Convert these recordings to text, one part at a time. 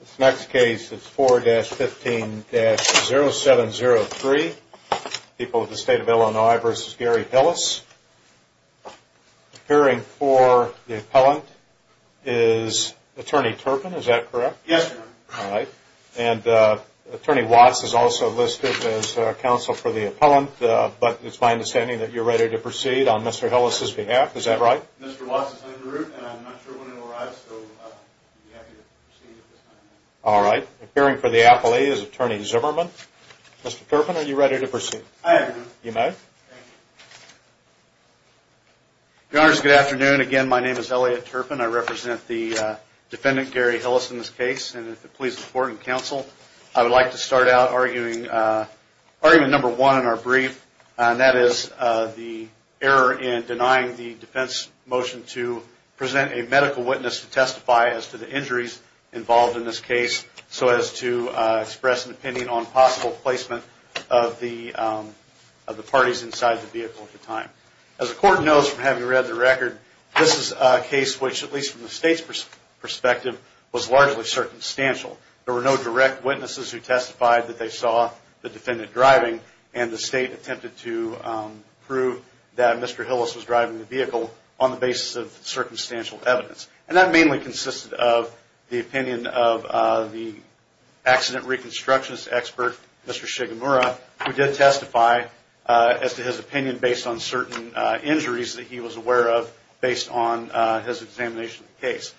This next case is 4-15-0703, People of the State of Illinois v. Gary Hillis. Appearing for the appellant is Attorney Turpin, is that correct? Yes, Your Honor. All right. And Attorney Watts is also listed as counsel for the appellant, but it's my understanding that you're ready to proceed on Mr. Hillis' behalf. Is that right? Yes, Your Honor. Mr. Watts is en route and I'm not sure when he'll arrive, so I'd be happy to proceed at this time. All right. Appearing for the appellee is Attorney Zimmerman. Mr. Turpin, are you ready to proceed? I am, Your Honor. You may. Thank you. Your Honors, good afternoon. Again, my name is Elliot Turpin. I represent the defendant, Gary Hillis, in this case, and if it pleases the court and counsel, I would like to start out arguing argument number one in our brief, and that is the error in denying the defense motion to present a medical witness to testify as to the injuries involved in this case so as to express an opinion on possible placement of the parties inside the vehicle at the time. As the court knows from having read the record, this is a case which, at least from the state's perspective, was largely circumstantial. There were no direct witnesses who testified that they saw the defendant driving and the state attempted to prove that Mr. Hillis was driving the vehicle on the basis of circumstantial evidence. And that mainly consisted of the opinion of the accident reconstructionist expert, Mr. Shigemura, who did testify as to his opinion based on certain injuries that he was aware of based on his examination of the case.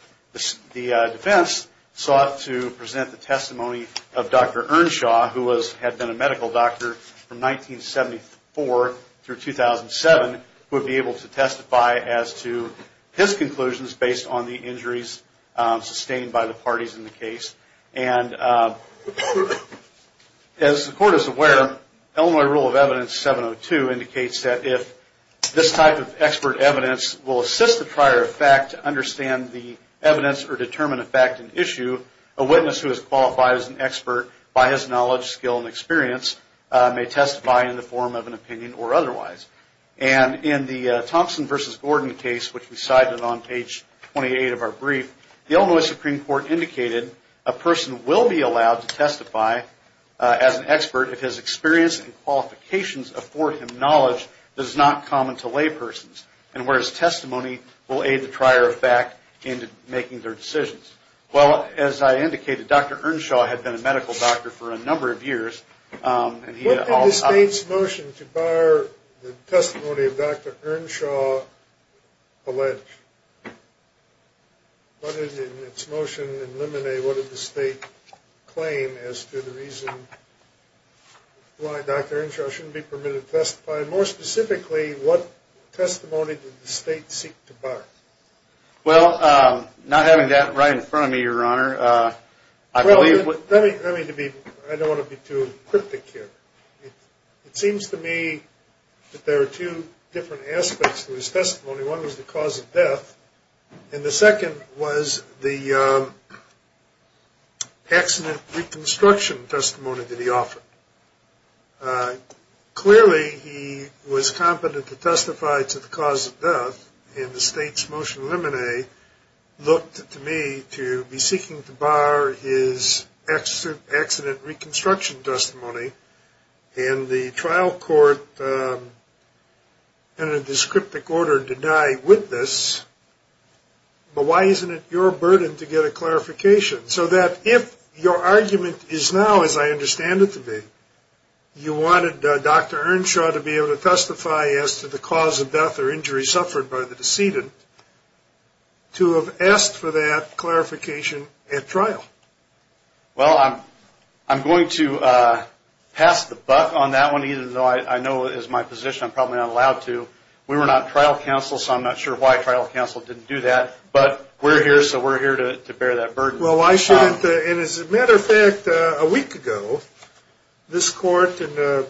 The defense sought to present the testimony of Dr. Earnshaw, who had been a medical doctor from 1974 through 2007, who would be able to testify as to his conclusions based on the injuries sustained by the parties in the case. And as the court is aware, Illinois Rule of Evidence 702 indicates that if this type of expert evidence will assist the prior effect to understand the evidence or determine a fact and issue, a witness who is qualified as an expert by his knowledge, skill, and experience may testify in the form of an opinion or otherwise. And in the Thompson v. Gordon case, which we cited on page 28 of our brief, the Illinois Supreme Court indicated a person will be allowed to testify as an expert if his experience and qualifications afford him knowledge that is not common to lay persons and where his testimony will aid the prior effect in making their decisions. Well, as I indicated, Dr. Earnshaw had been a medical doctor for a number of years. What did the state's motion to bar the testimony of Dr. Earnshaw allege? What did its motion in Limine, what did the state claim as to the reason why Dr. Earnshaw shouldn't be permitted to testify? And more specifically, what testimony did the state seek to bar? Well, not having that right in front of me, Your Honor, I believe what- Let me be, I don't want to be too cryptic here. It seems to me that there are two different aspects to his testimony. One was the cause of death, and the second was the accident reconstruction testimony that he offered. Clearly, he was competent to testify to the cause of death, and the state's motion in Limine looked to me to be seeking to bar his accident reconstruction testimony, and the trial court entered this cryptic order to die with this. But why isn't it your burden to get a clarification? So that if your argument is now, as I understand it to be, you wanted Dr. Earnshaw to be able to testify as to the cause of death or injury suffered by the decedent, to have asked for that clarification at trial. Well, I'm going to pass the buck on that one, even though I know as my physician I'm probably not allowed to. We were not trial counsel, so I'm not sure why trial counsel didn't do that. But we're here, so we're here to bear that burden. Well, I shouldn't. And as a matter of fact, a week ago, this court, in an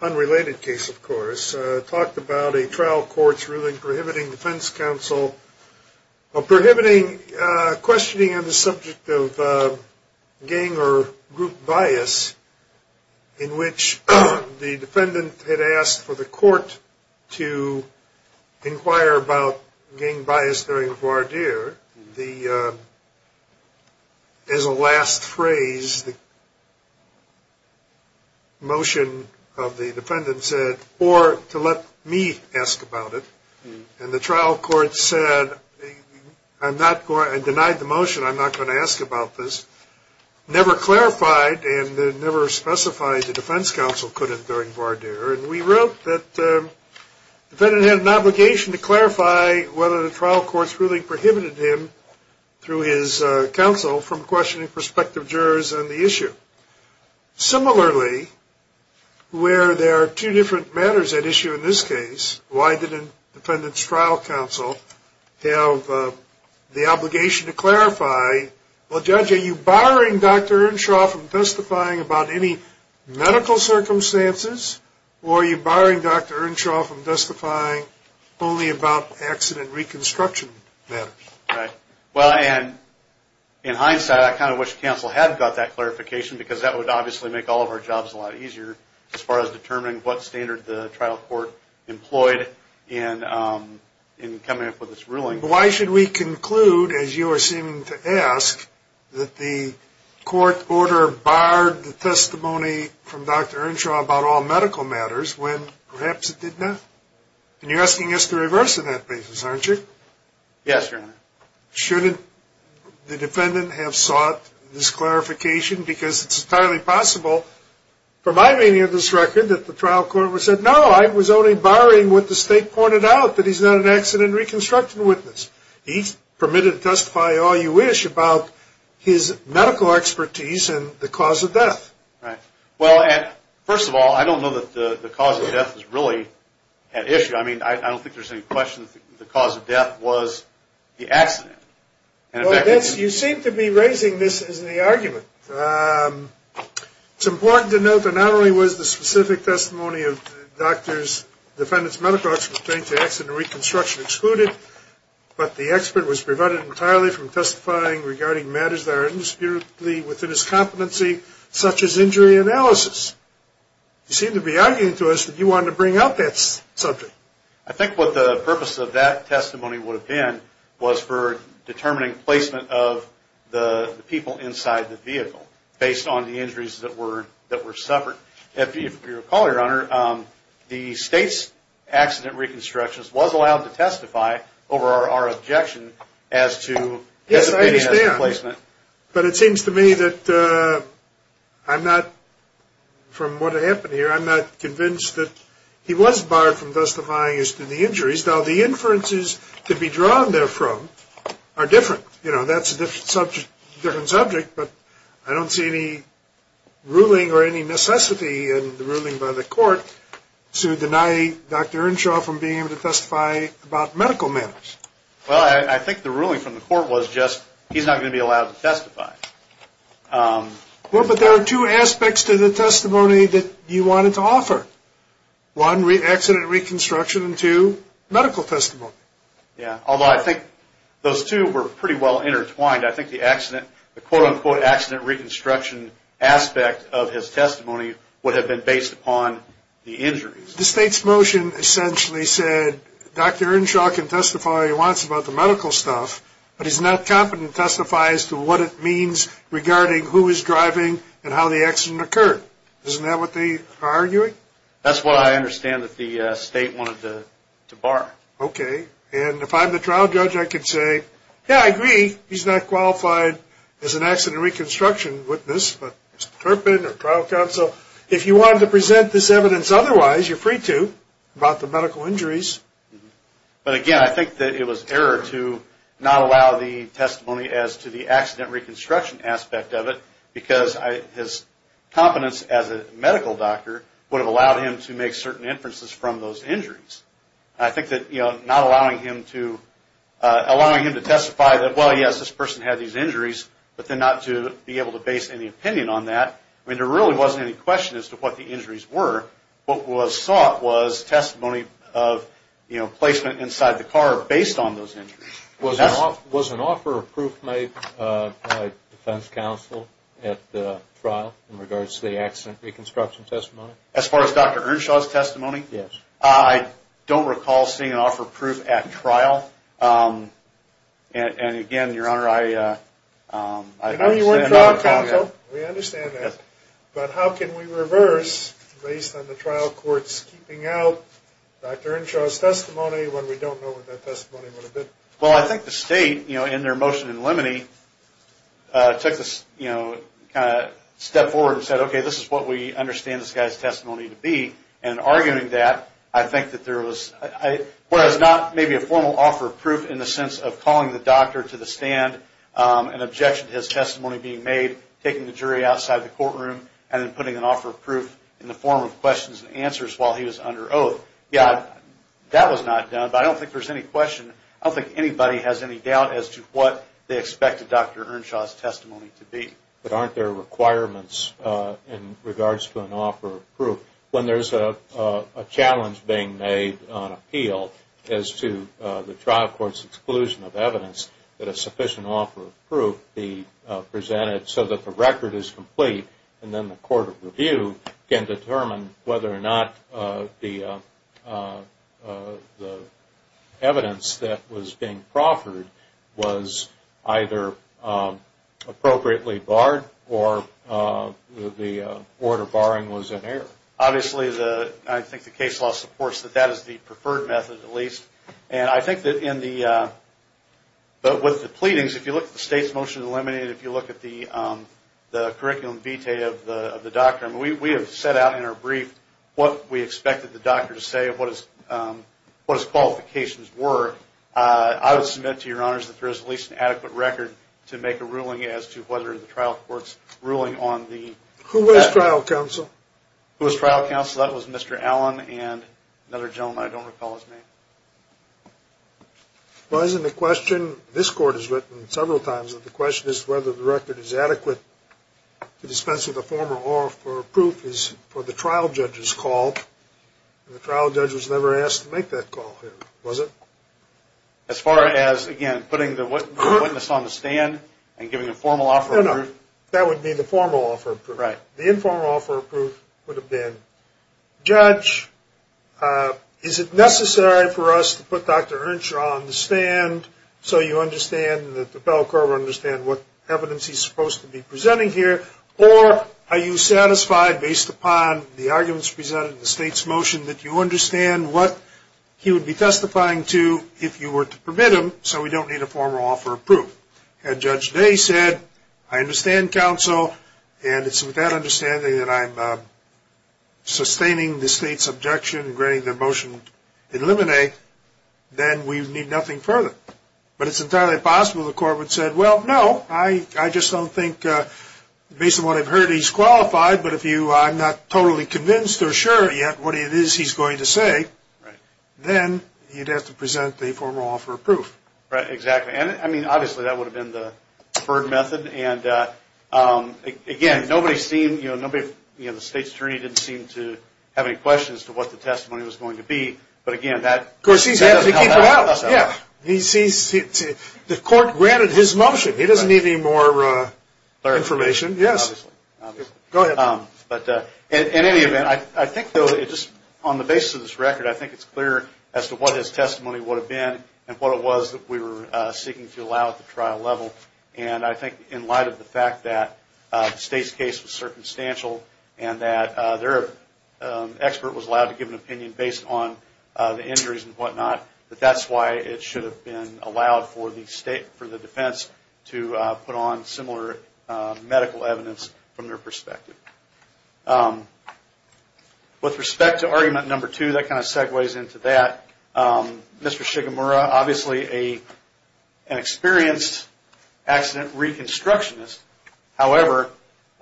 unrelated case, of course, talked about a trial court's ruling prohibiting defense counsel, prohibiting questioning on the subject of gang or group bias, in which the defendant had asked for the court to inquire about gang bias during a voir dire. As a last phrase, the motion of the defendant said, or to let me ask about it. And the trial court said, I'm not going to, and denied the motion, I'm not going to ask about this. Never clarified and never specified the defense counsel couldn't during voir dire. And we wrote that the defendant had an obligation to clarify whether the trial court's ruling prohibited him, through his counsel, from questioning prospective jurors on the issue. Similarly, where there are two different matters at issue in this case, why didn't defendant's trial counsel have the obligation to clarify, well, Judge, are you barring Dr. Earnshaw from testifying about any medical circumstances, or are you barring Dr. Earnshaw from testifying only about accident reconstruction matters? Well, and in hindsight, I kind of wish counsel had got that clarification, because that would obviously make all of our jobs a lot easier, as far as determining what standard the trial court employed in coming up with this ruling. Why should we conclude, as you are seeming to ask, that the court order barred the testimony from Dr. Earnshaw about all medical matters, when perhaps it did not? And you're asking us to reverse on that basis, aren't you? Yes, Your Honor. Shouldn't the defendant have sought this clarification? Because it's entirely possible, from my reading of this record, that the trial court would have said, no, I was only barring what the state pointed out, that he's not an accident reconstruction witness. He's permitted to testify all you wish about his medical expertise and the cause of death. Well, first of all, I don't know that the cause of death is really at issue. I mean, I don't think there's any question that the cause of death was the accident. You seem to be raising this as the argument. It's important to note that not only was the specific testimony of the doctor's defendant's medical expertise to accident reconstruction excluded, but the expert was prevented entirely from testifying regarding matters that are indisputably within his competency, such as injury analysis. You seem to be arguing to us that you wanted to bring up that subject. I think what the purpose of that testimony would have been was for determining placement of the people inside the vehicle. Based on the injuries that were suffered. If you recall, Your Honor, the state's accident reconstructionist was allowed to testify over our objection as to placement. Yes, I understand. But it seems to me that I'm not, from what happened here, I'm not convinced that he was barred from testifying as to the injuries. Now, the inferences to be drawn therefrom are different. You know, that's a different subject, but I don't see any ruling or any necessity in the ruling by the court to deny Dr. Earnshaw from being able to testify about medical matters. Well, I think the ruling from the court was just he's not going to be allowed to testify. Well, but there are two aspects to the testimony that you wanted to offer. One, accident reconstruction, and two, medical testimony. Yeah, although I think those two were pretty well intertwined. I think the quote-unquote accident reconstruction aspect of his testimony would have been based upon the injuries. The state's motion essentially said Dr. Earnshaw can testify all he wants about the medical stuff, but he's not competent to testify as to what it means regarding who is driving and how the accident occurred. Isn't that what they are arguing? That's what I understand that the state wanted to bar. Okay, and if I'm the trial judge, I can say, yeah, I agree. He's not qualified as an accident reconstruction witness, but Mr. Turpin or trial counsel, if you wanted to present this evidence otherwise, you're free to about the medical injuries. But again, I think that it was error to not allow the testimony as to the accident reconstruction aspect of it because his competence as a medical doctor would have allowed him to make certain inferences from those injuries. I think that not allowing him to testify that, well, yes, this person had these injuries, but then not to be able to base any opinion on that. I mean, there really wasn't any question as to what the injuries were. What was sought was testimony of placement inside the car based on those injuries. Was an offer of proof made by defense counsel at the trial in regards to the accident reconstruction testimony? As far as Dr. Earnshaw's testimony? Yes. I don't recall seeing an offer of proof at trial. And again, Your Honor, I understand that. We know you weren't trial counsel. We understand that. But how can we reverse based on the trial court's keeping out Dr. Earnshaw's testimony when we don't know what that testimony would have been? Well, I think the state, you know, in their motion in limine, took the, you know, kind of stepped forward and said, okay, this is what we understand this guy's testimony to be. And in arguing that, I think that there was not maybe a formal offer of proof in the sense of calling the doctor to the stand, an objection to his testimony being made, taking the jury outside the courtroom, and then putting an offer of proof in the form of questions and answers while he was under oath. Yeah, that was not done. But I don't think there's any question. I don't think anybody has any doubt as to what they expected Dr. Earnshaw's testimony to be. But aren't there requirements in regards to an offer of proof? When there's a challenge being made on appeal as to the trial court's exclusion of evidence, that a sufficient offer of proof be presented so that the record is complete and then the court of review can determine whether or not the evidence that was being proffered was either appropriately barred or the order barring was in error. Obviously, I think the case law supports that that is the preferred method at least. And I think that in the – but with the pleadings, if you look at the state's motion to eliminate it, if you look at the curriculum vitae of the doctor, we have set out in our brief what we expected the doctor to say, what his qualifications were. I would submit to your honors that there is at least an adequate record to make a ruling as to whether the trial court's ruling on the – Who was trial counsel? Who was trial counsel? That was Mr. Allen and another gentleman. I don't recall his name. Well, isn't the question – this court has written several times that the question is whether the record is adequate to dispense with the former or for proof is for the trial judge's call. The trial judge was never asked to make that call, was it? As far as, again, putting the witness on the stand and giving a formal offer of proof. No, no, that would be the formal offer of proof. The informal offer of proof would have been, Judge, is it necessary for us to put Dr. Earnshaw on the stand so you understand that the federal court will understand what evidence he's supposed to be presenting here or are you satisfied based upon the arguments presented in the state's motion that you understand what he would be testifying to if you were to permit him so we don't need a formal offer of proof? Had Judge Day said, I understand, counsel, and it's with that understanding that I'm sustaining the state's objection and granting the motion in limine, then we need nothing further. But it's entirely possible the court would have said, well, no, I just don't think based on what I've heard he's qualified, but I'm not totally convinced or sure yet what it is he's going to say, then he'd have to present the formal offer of proof. Right, exactly. I mean, obviously, that would have been the preferred method, and again, the state's attorney didn't seem to have any questions as to what the testimony was going to be, but again, that doesn't help us out. Yeah, the court granted his motion. He doesn't need any more information. Go ahead. In any event, I think, though, on the basis of this record, I think it's clear as to what his testimony would have been and what it was that we were seeking to allow at the trial level, and I think in light of the fact that the state's case was circumstantial and that their expert was allowed to give an opinion based on the injuries and whatnot, that that's why it should have been allowed for the defense to put on similar medical evidence from their perspective. With respect to argument number two, that kind of segues into that. Mr. Shigemura, obviously an experienced accident reconstructionist, however,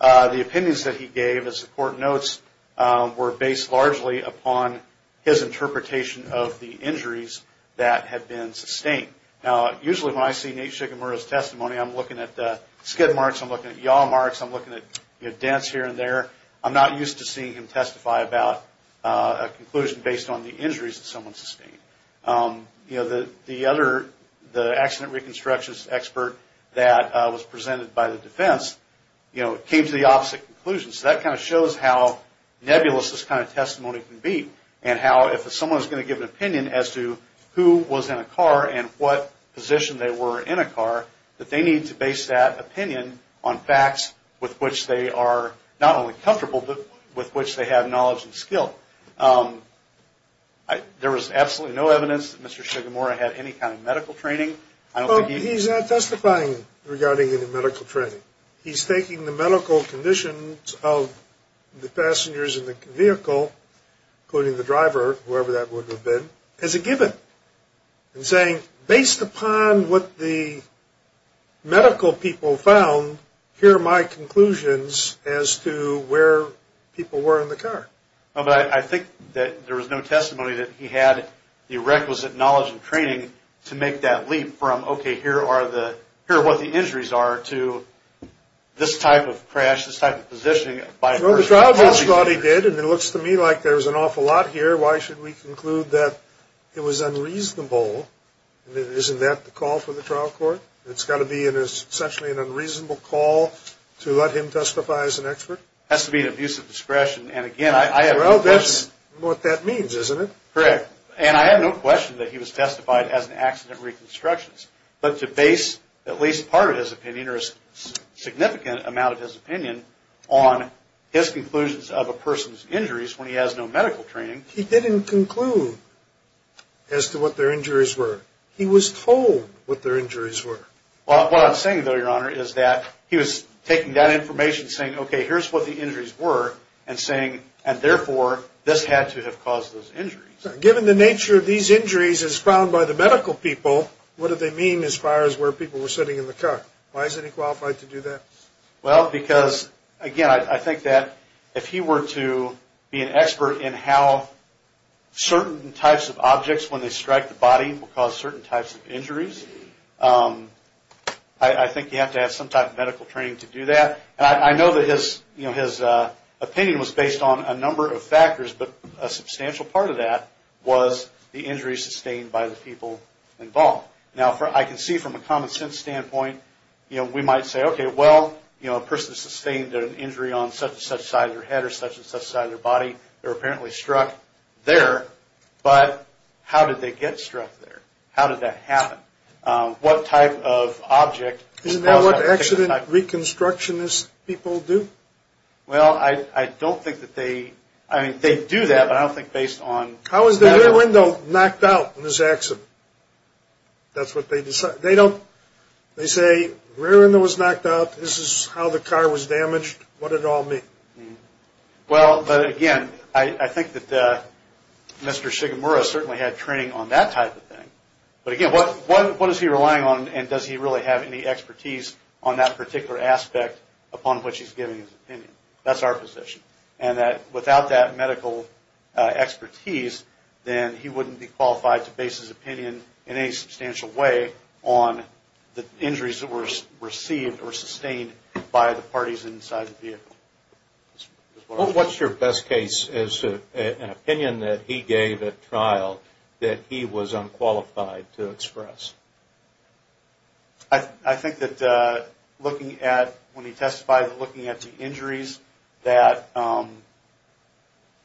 the opinions that he gave, as the court notes, were based largely upon his interpretation of the injuries that had been sustained. Now, usually when I see Nate Shigemura's testimony, I'm looking at skid marks, I'm looking at yaw marks, I'm looking at dents here and there. I'm not used to seeing him testify about a conclusion based on the injuries that someone sustained. The accident reconstructionist expert that was presented by the defense came to the opposite conclusion. So that kind of shows how nebulous this kind of testimony can be and how if someone's going to give an opinion as to who was in a car and what position they were in a car, that they need to base that opinion on facts with which they are not only comfortable, but with which they have knowledge and skill. There was absolutely no evidence that Mr. Shigemura had any kind of medical training. He's not testifying regarding any medical training. He's taking the medical conditions of the passengers in the vehicle, including the driver, whoever that would have been, as a given and saying, based upon what the medical people found, here are my conclusions as to where people were in the car. I think that there was no testimony that he had the requisite knowledge and training to make that leap from, okay, here are what the injuries are, to this type of crash, this type of positioning by a person. Well, the trial judge thought he did, and it looks to me like there was an awful lot here. Why should we conclude that it was unreasonable? Isn't that the call for the trial court? It's got to be essentially an unreasonable call to let him testify as an expert? It has to be an abuse of discretion, and again, I have no question. Well, that's what that means, isn't it? Correct. And I have no question that he was testified as an accident reconstructionist, but to base at least part of his opinion or a significant amount of his opinion on his conclusions of a person's injuries when he has no medical training. He didn't conclude as to what their injuries were. He was told what their injuries were. What I'm saying, though, Your Honor, is that he was taking that information, saying, okay, here's what the injuries were, and saying, and therefore, this had to have caused those injuries. Given the nature of these injuries as found by the medical people, what do they mean as far as where people were sitting in the car? Why isn't he qualified to do that? Well, because, again, I think that if he were to be an expert in how certain types of objects when they strike the body will cause certain types of injuries, I think you have to have some type of medical training to do that. And I know that his opinion was based on a number of factors, but a substantial part of that was the injuries sustained by the people involved. Now, I can see from a common sense standpoint, we might say, okay, well, a person sustained an injury on such and such side of their head or such and such side of their body. They were apparently struck there, but how did they get struck there? How did that happen? What type of object caused that particular type of injury? Well, I don't think that they – I mean, they do that, but I don't think based on – How was the rear window knocked out in this accident? That's what they decide. They don't – they say rear window was knocked out. This is how the car was damaged. What did it all mean? Well, again, I think that Mr. Shigemura certainly had training on that type of thing. But, again, what is he relying on and does he really have any expertise on that particular aspect upon which he's giving his opinion? That's our position. And that without that medical expertise, then he wouldn't be qualified to base his opinion in any substantial way on the injuries that were received or sustained by the parties inside the vehicle. What's your best case as to an opinion that he gave at trial that he was unqualified to express? I think that looking at – when he testified, looking at the injuries that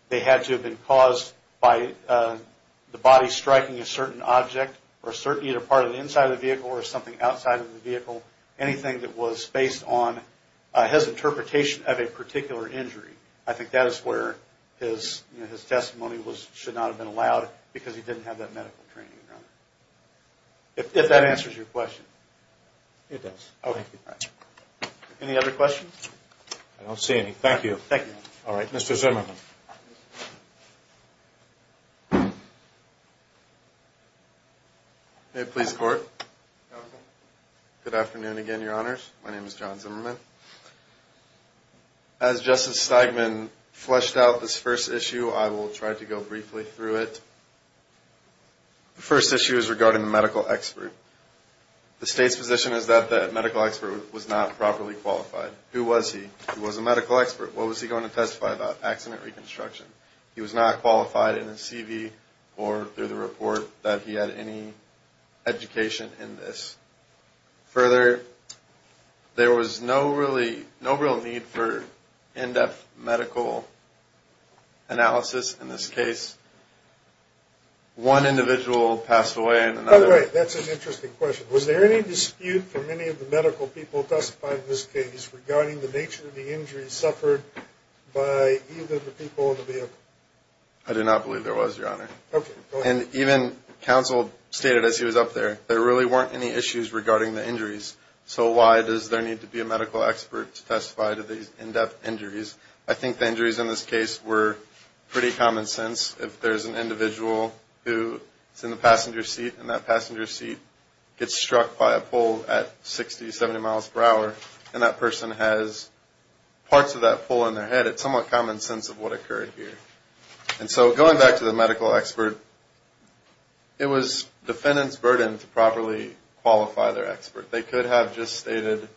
they had to have been caused by the body striking a certain object or certainly a part of the inside of the vehicle or something outside of the vehicle, anything that was based on his interpretation of a particular injury, I think that is where his testimony should not have been allowed because he didn't have that medical training, Your Honor. If that answers your question. It does. Okay. Any other questions? I don't see any. Thank you. Thank you. All right. Mr. Zimmerman. May it please the Court? Good afternoon again, Your Honors. My name is John Zimmerman. As Justice Steigman fleshed out this first issue, I will try to go briefly through it. The first issue is regarding the medical expert. The State's position is that the medical expert was not properly qualified. Who was he? He was a medical expert. What was he going to testify about? Accident reconstruction. He was not qualified in his CV or through the report that he had any education in this. Further, there was no real need for in-depth medical analysis in this case. One individual passed away and another. Oh, right. That's an interesting question. Was there any dispute for many of the medical people testifying in this case regarding the nature of the injuries suffered by either of the people in the vehicle? I do not believe there was, Your Honor. Okay. And even counsel stated as he was up there, there really weren't any issues regarding the injuries. So why does there need to be a medical expert to testify to these in-depth injuries? I think the injuries in this case were pretty common sense. If there's an individual who is in the passenger seat and that passenger seat gets struck by a pole at 60, 70 miles per hour and that person has parts of that pole in their head, it's somewhat common sense of what occurred here. And so going back to the medical expert, it was defendant's burden to properly qualify their expert. They could have just stated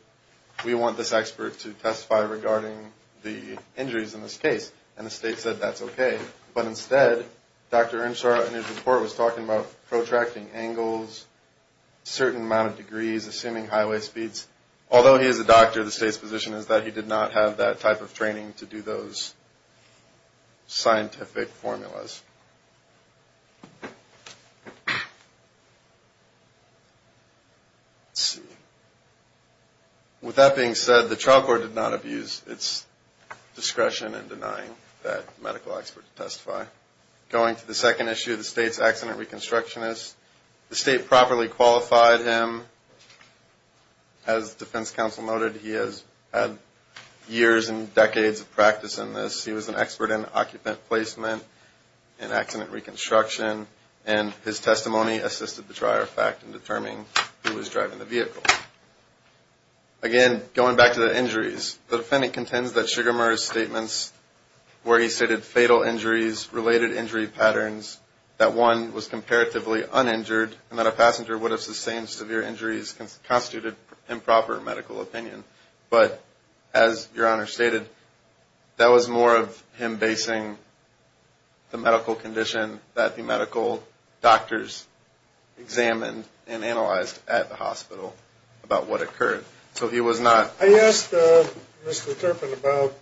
we want this expert to testify regarding the injuries in this case, and the state said that's okay. But instead, Dr. Earnshaw in his report was talking about protracting angles, certain amount of degrees, assuming highway speeds. Although he is a doctor, the state's position is that he did not have that type of training to do those scientific formulas. With that being said, the trial court did not abuse its discretion in denying that medical expert to testify. Going to the second issue, the state's accident reconstructionist, the state properly qualified him. As the defense counsel noted, he has had years and decades of practice in this. He was an expert in occupant placement, in accident reconstruction, and his testimony assisted the trier fact in determining who was driving the vehicle. Again, going back to the injuries, the defendant contends that Sugar Murr's statements where he stated fatal injuries, related injury patterns, that one was comparatively uninjured, and that a passenger would have sustained severe injuries constituted improper medical opinion. But as Your Honor stated, that was more of him basing the medical condition that the medical doctors examined and analyzed at the hospital about what occurred. I asked Mr. Turpin about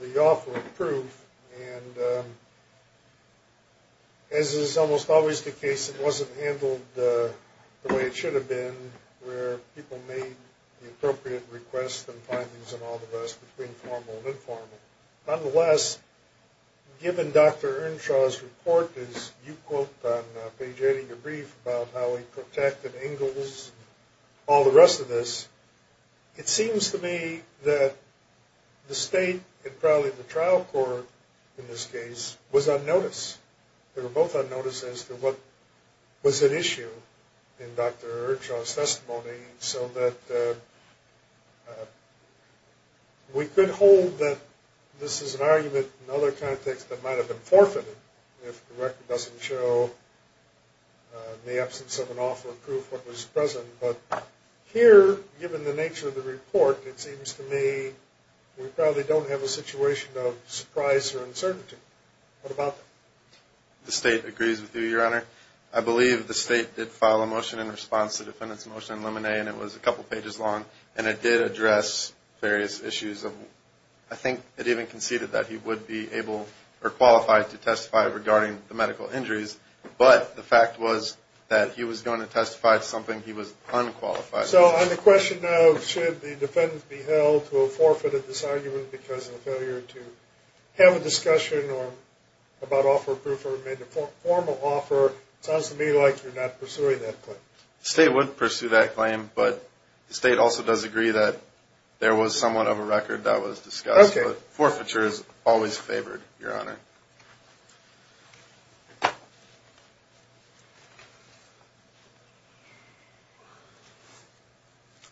the offer of proof, and as is almost always the case, it wasn't handled the way it should have been, where people made the appropriate requests and findings and all the rest between formal and informal. Nonetheless, given Dr. Earnshaw's report, as you quote on page 80 of your brief, about how he protected Ingalls and all the rest of this, it seems to me that the state and probably the trial court in this case was unnoticed. They were both unnoticed as to what was at issue in Dr. Earnshaw's testimony, so that we could hold that this is an argument in other contexts that might have been forfeited if the record doesn't show the absence of an offer of proof what was present. But here, given the nature of the report, it seems to me we probably don't have a situation of surprise or uncertainty. What about that? The state agrees with you, Your Honor. I believe the state did file a motion in response to the defendant's motion in Lemonet, and it was a couple pages long, and it did address various issues. I think it even conceded that he would be able or qualified to testify regarding the medical injuries, but the fact was that he was going to testify to something he was unqualified of. So on the question of should the defendant be held to a forfeit of this argument because of a failure to have a discussion about offer of proof or made a formal offer, it sounds to me like you're not pursuing that claim. The state would pursue that claim, but the state also does agree that there was somewhat of a record that was discussed, but forfeiture is always favored, Your Honor.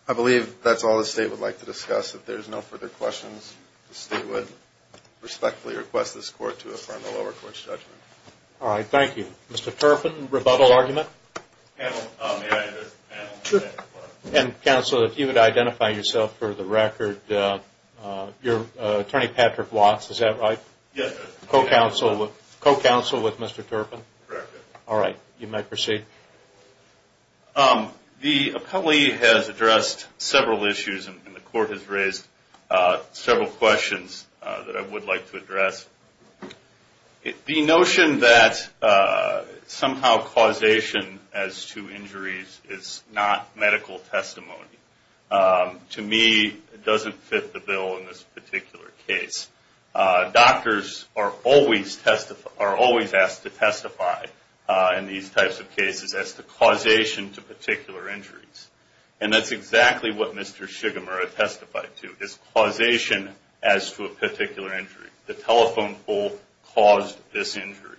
I believe that's all the state would like to discuss. If there are no further questions, the state would respectfully request this Court to affirm the lower court's judgment. All right. Thank you. Mr. Turpin, rebuttal argument? May I address the panel? Sure. Counsel, if you would identify yourself for the record. You're Attorney Patrick Watts, is that right? Yes. Co-counsel with Mr. Turpin? Correct. All right. You may proceed. The appellee has addressed several issues, and the Court has raised several questions that I would like to address. The notion that somehow causation as to injuries is not medical testimony, to me doesn't fit the bill in this particular case. Doctors are always asked to testify in these types of cases as to causation to particular injuries, and that's exactly what Mr. Shigemura testified to, is causation as to a particular injury. The telephone pole caused this injury.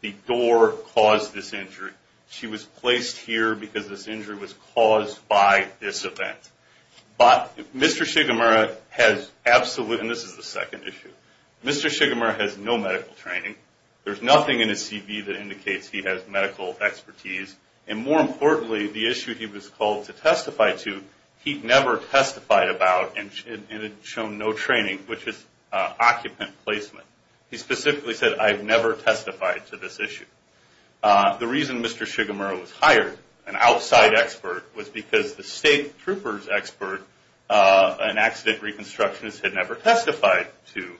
The door caused this injury. She was placed here because this injury was caused by this event. But Mr. Shigemura has absolutely, and this is the second issue, Mr. Shigemura has no medical training. There's nothing in his CV that indicates he has medical expertise, and more importantly, the issue he was called to testify to, he never testified about and had shown no training, which is occupant placement. He specifically said, I have never testified to this issue. The reason Mr. Shigemura was hired, an outside expert, was because the state trooper's expert, an accident reconstructionist, had never testified to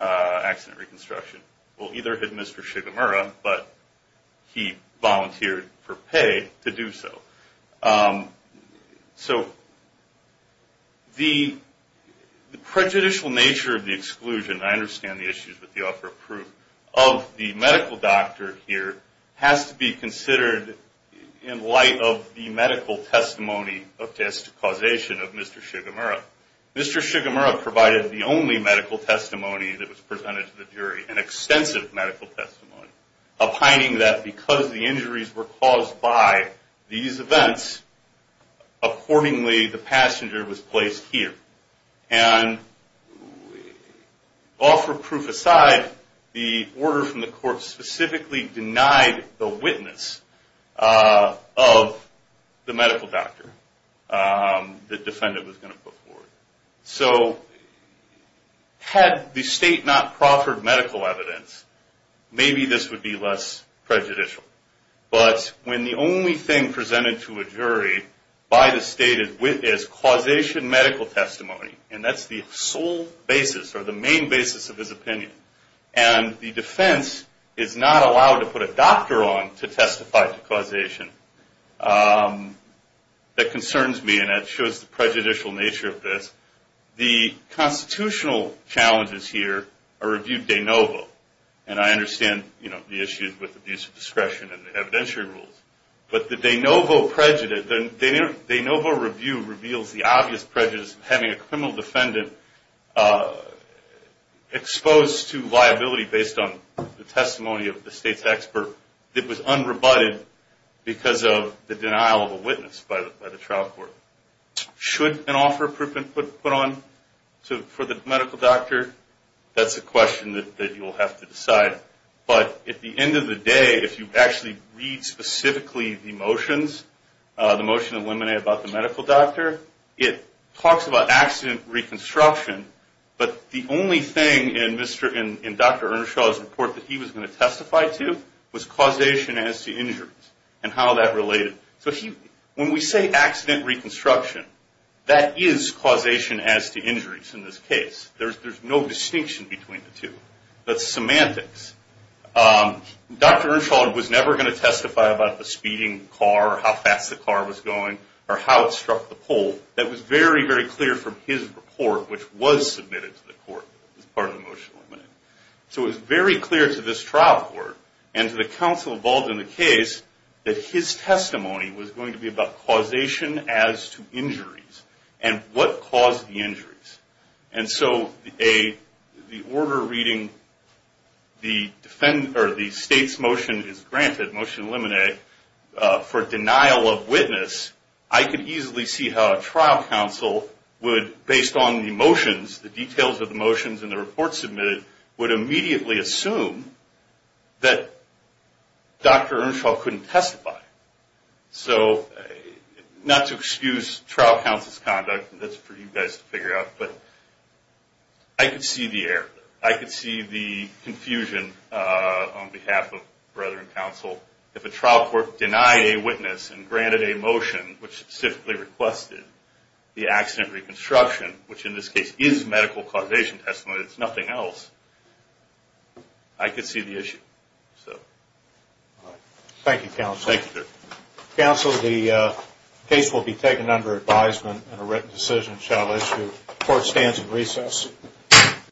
accident reconstruction. Well, either had Mr. Shigemura, but he volunteered for pay to do so. So the prejudicial nature of the exclusion, and I understand the issues with the offer of proof, of the medical doctor here has to be considered in light of the medical testimony of this causation of Mr. Shigemura. Mr. Shigemura provided the only medical testimony that was presented to the jury, an extensive medical testimony, opining that because the injuries were caused by these events, accordingly the passenger was placed here. And offer of proof aside, the order from the court specifically denied the witness of the medical doctor the defendant was going to put forward. So had the state not proffered medical evidence, maybe this would be less prejudicial. But when the only thing presented to a jury by the state is causation medical testimony, and that's the sole basis or the main basis of his opinion, and the defense is not allowed to put a doctor on to testify to causation, that concerns me and that shows the prejudicial nature of this. The constitutional challenges here are reviewed de novo, and I understand the issues with abuse of discretion and evidentiary rules, but the de novo review reveals the obvious prejudice of having a criminal defendant exposed to liability based on the testimony of the state's expert that was unrebutted because of the denial of a witness by the trial court. Should an offer of proof be put on for the medical doctor? That's a question that you'll have to decide. But at the end of the day, if you actually read specifically the motions, the motion of limine about the medical doctor, it talks about accident reconstruction, but the only thing in Dr. Earnshaw's report that he was going to testify to was causation as to injuries and how that related. So when we say accident reconstruction, that is causation as to injuries in this case. There's no distinction between the two. That's semantics. Dr. Earnshaw was never going to testify about the speeding car or how fast the car was going or how it struck the pole. That was very, very clear from his report, which was submitted to the court as part of the motion of limine. So it was very clear to this trial court and to the counsel involved in the case that his testimony was going to be about causation as to injuries and what caused the injuries. And so the order reading the state's motion is granted, motion of limine, for denial of witness, I could easily see how a trial counsel would, based on the motions, the details of the motions in the report submitted, would immediately assume that Dr. Earnshaw couldn't testify. So not to excuse trial counsel's conduct, and that's for you guys to figure out, but I could see the error. I could see the confusion on behalf of brethren counsel. If a trial court denied a witness and granted a motion, which specifically requested the accident reconstruction, which in this case is medical causation testimony, it's nothing else, I could see the issue. Thank you, counsel. Counsel, the case will be taken under advisement and a written decision shall issue. Court stands at recess.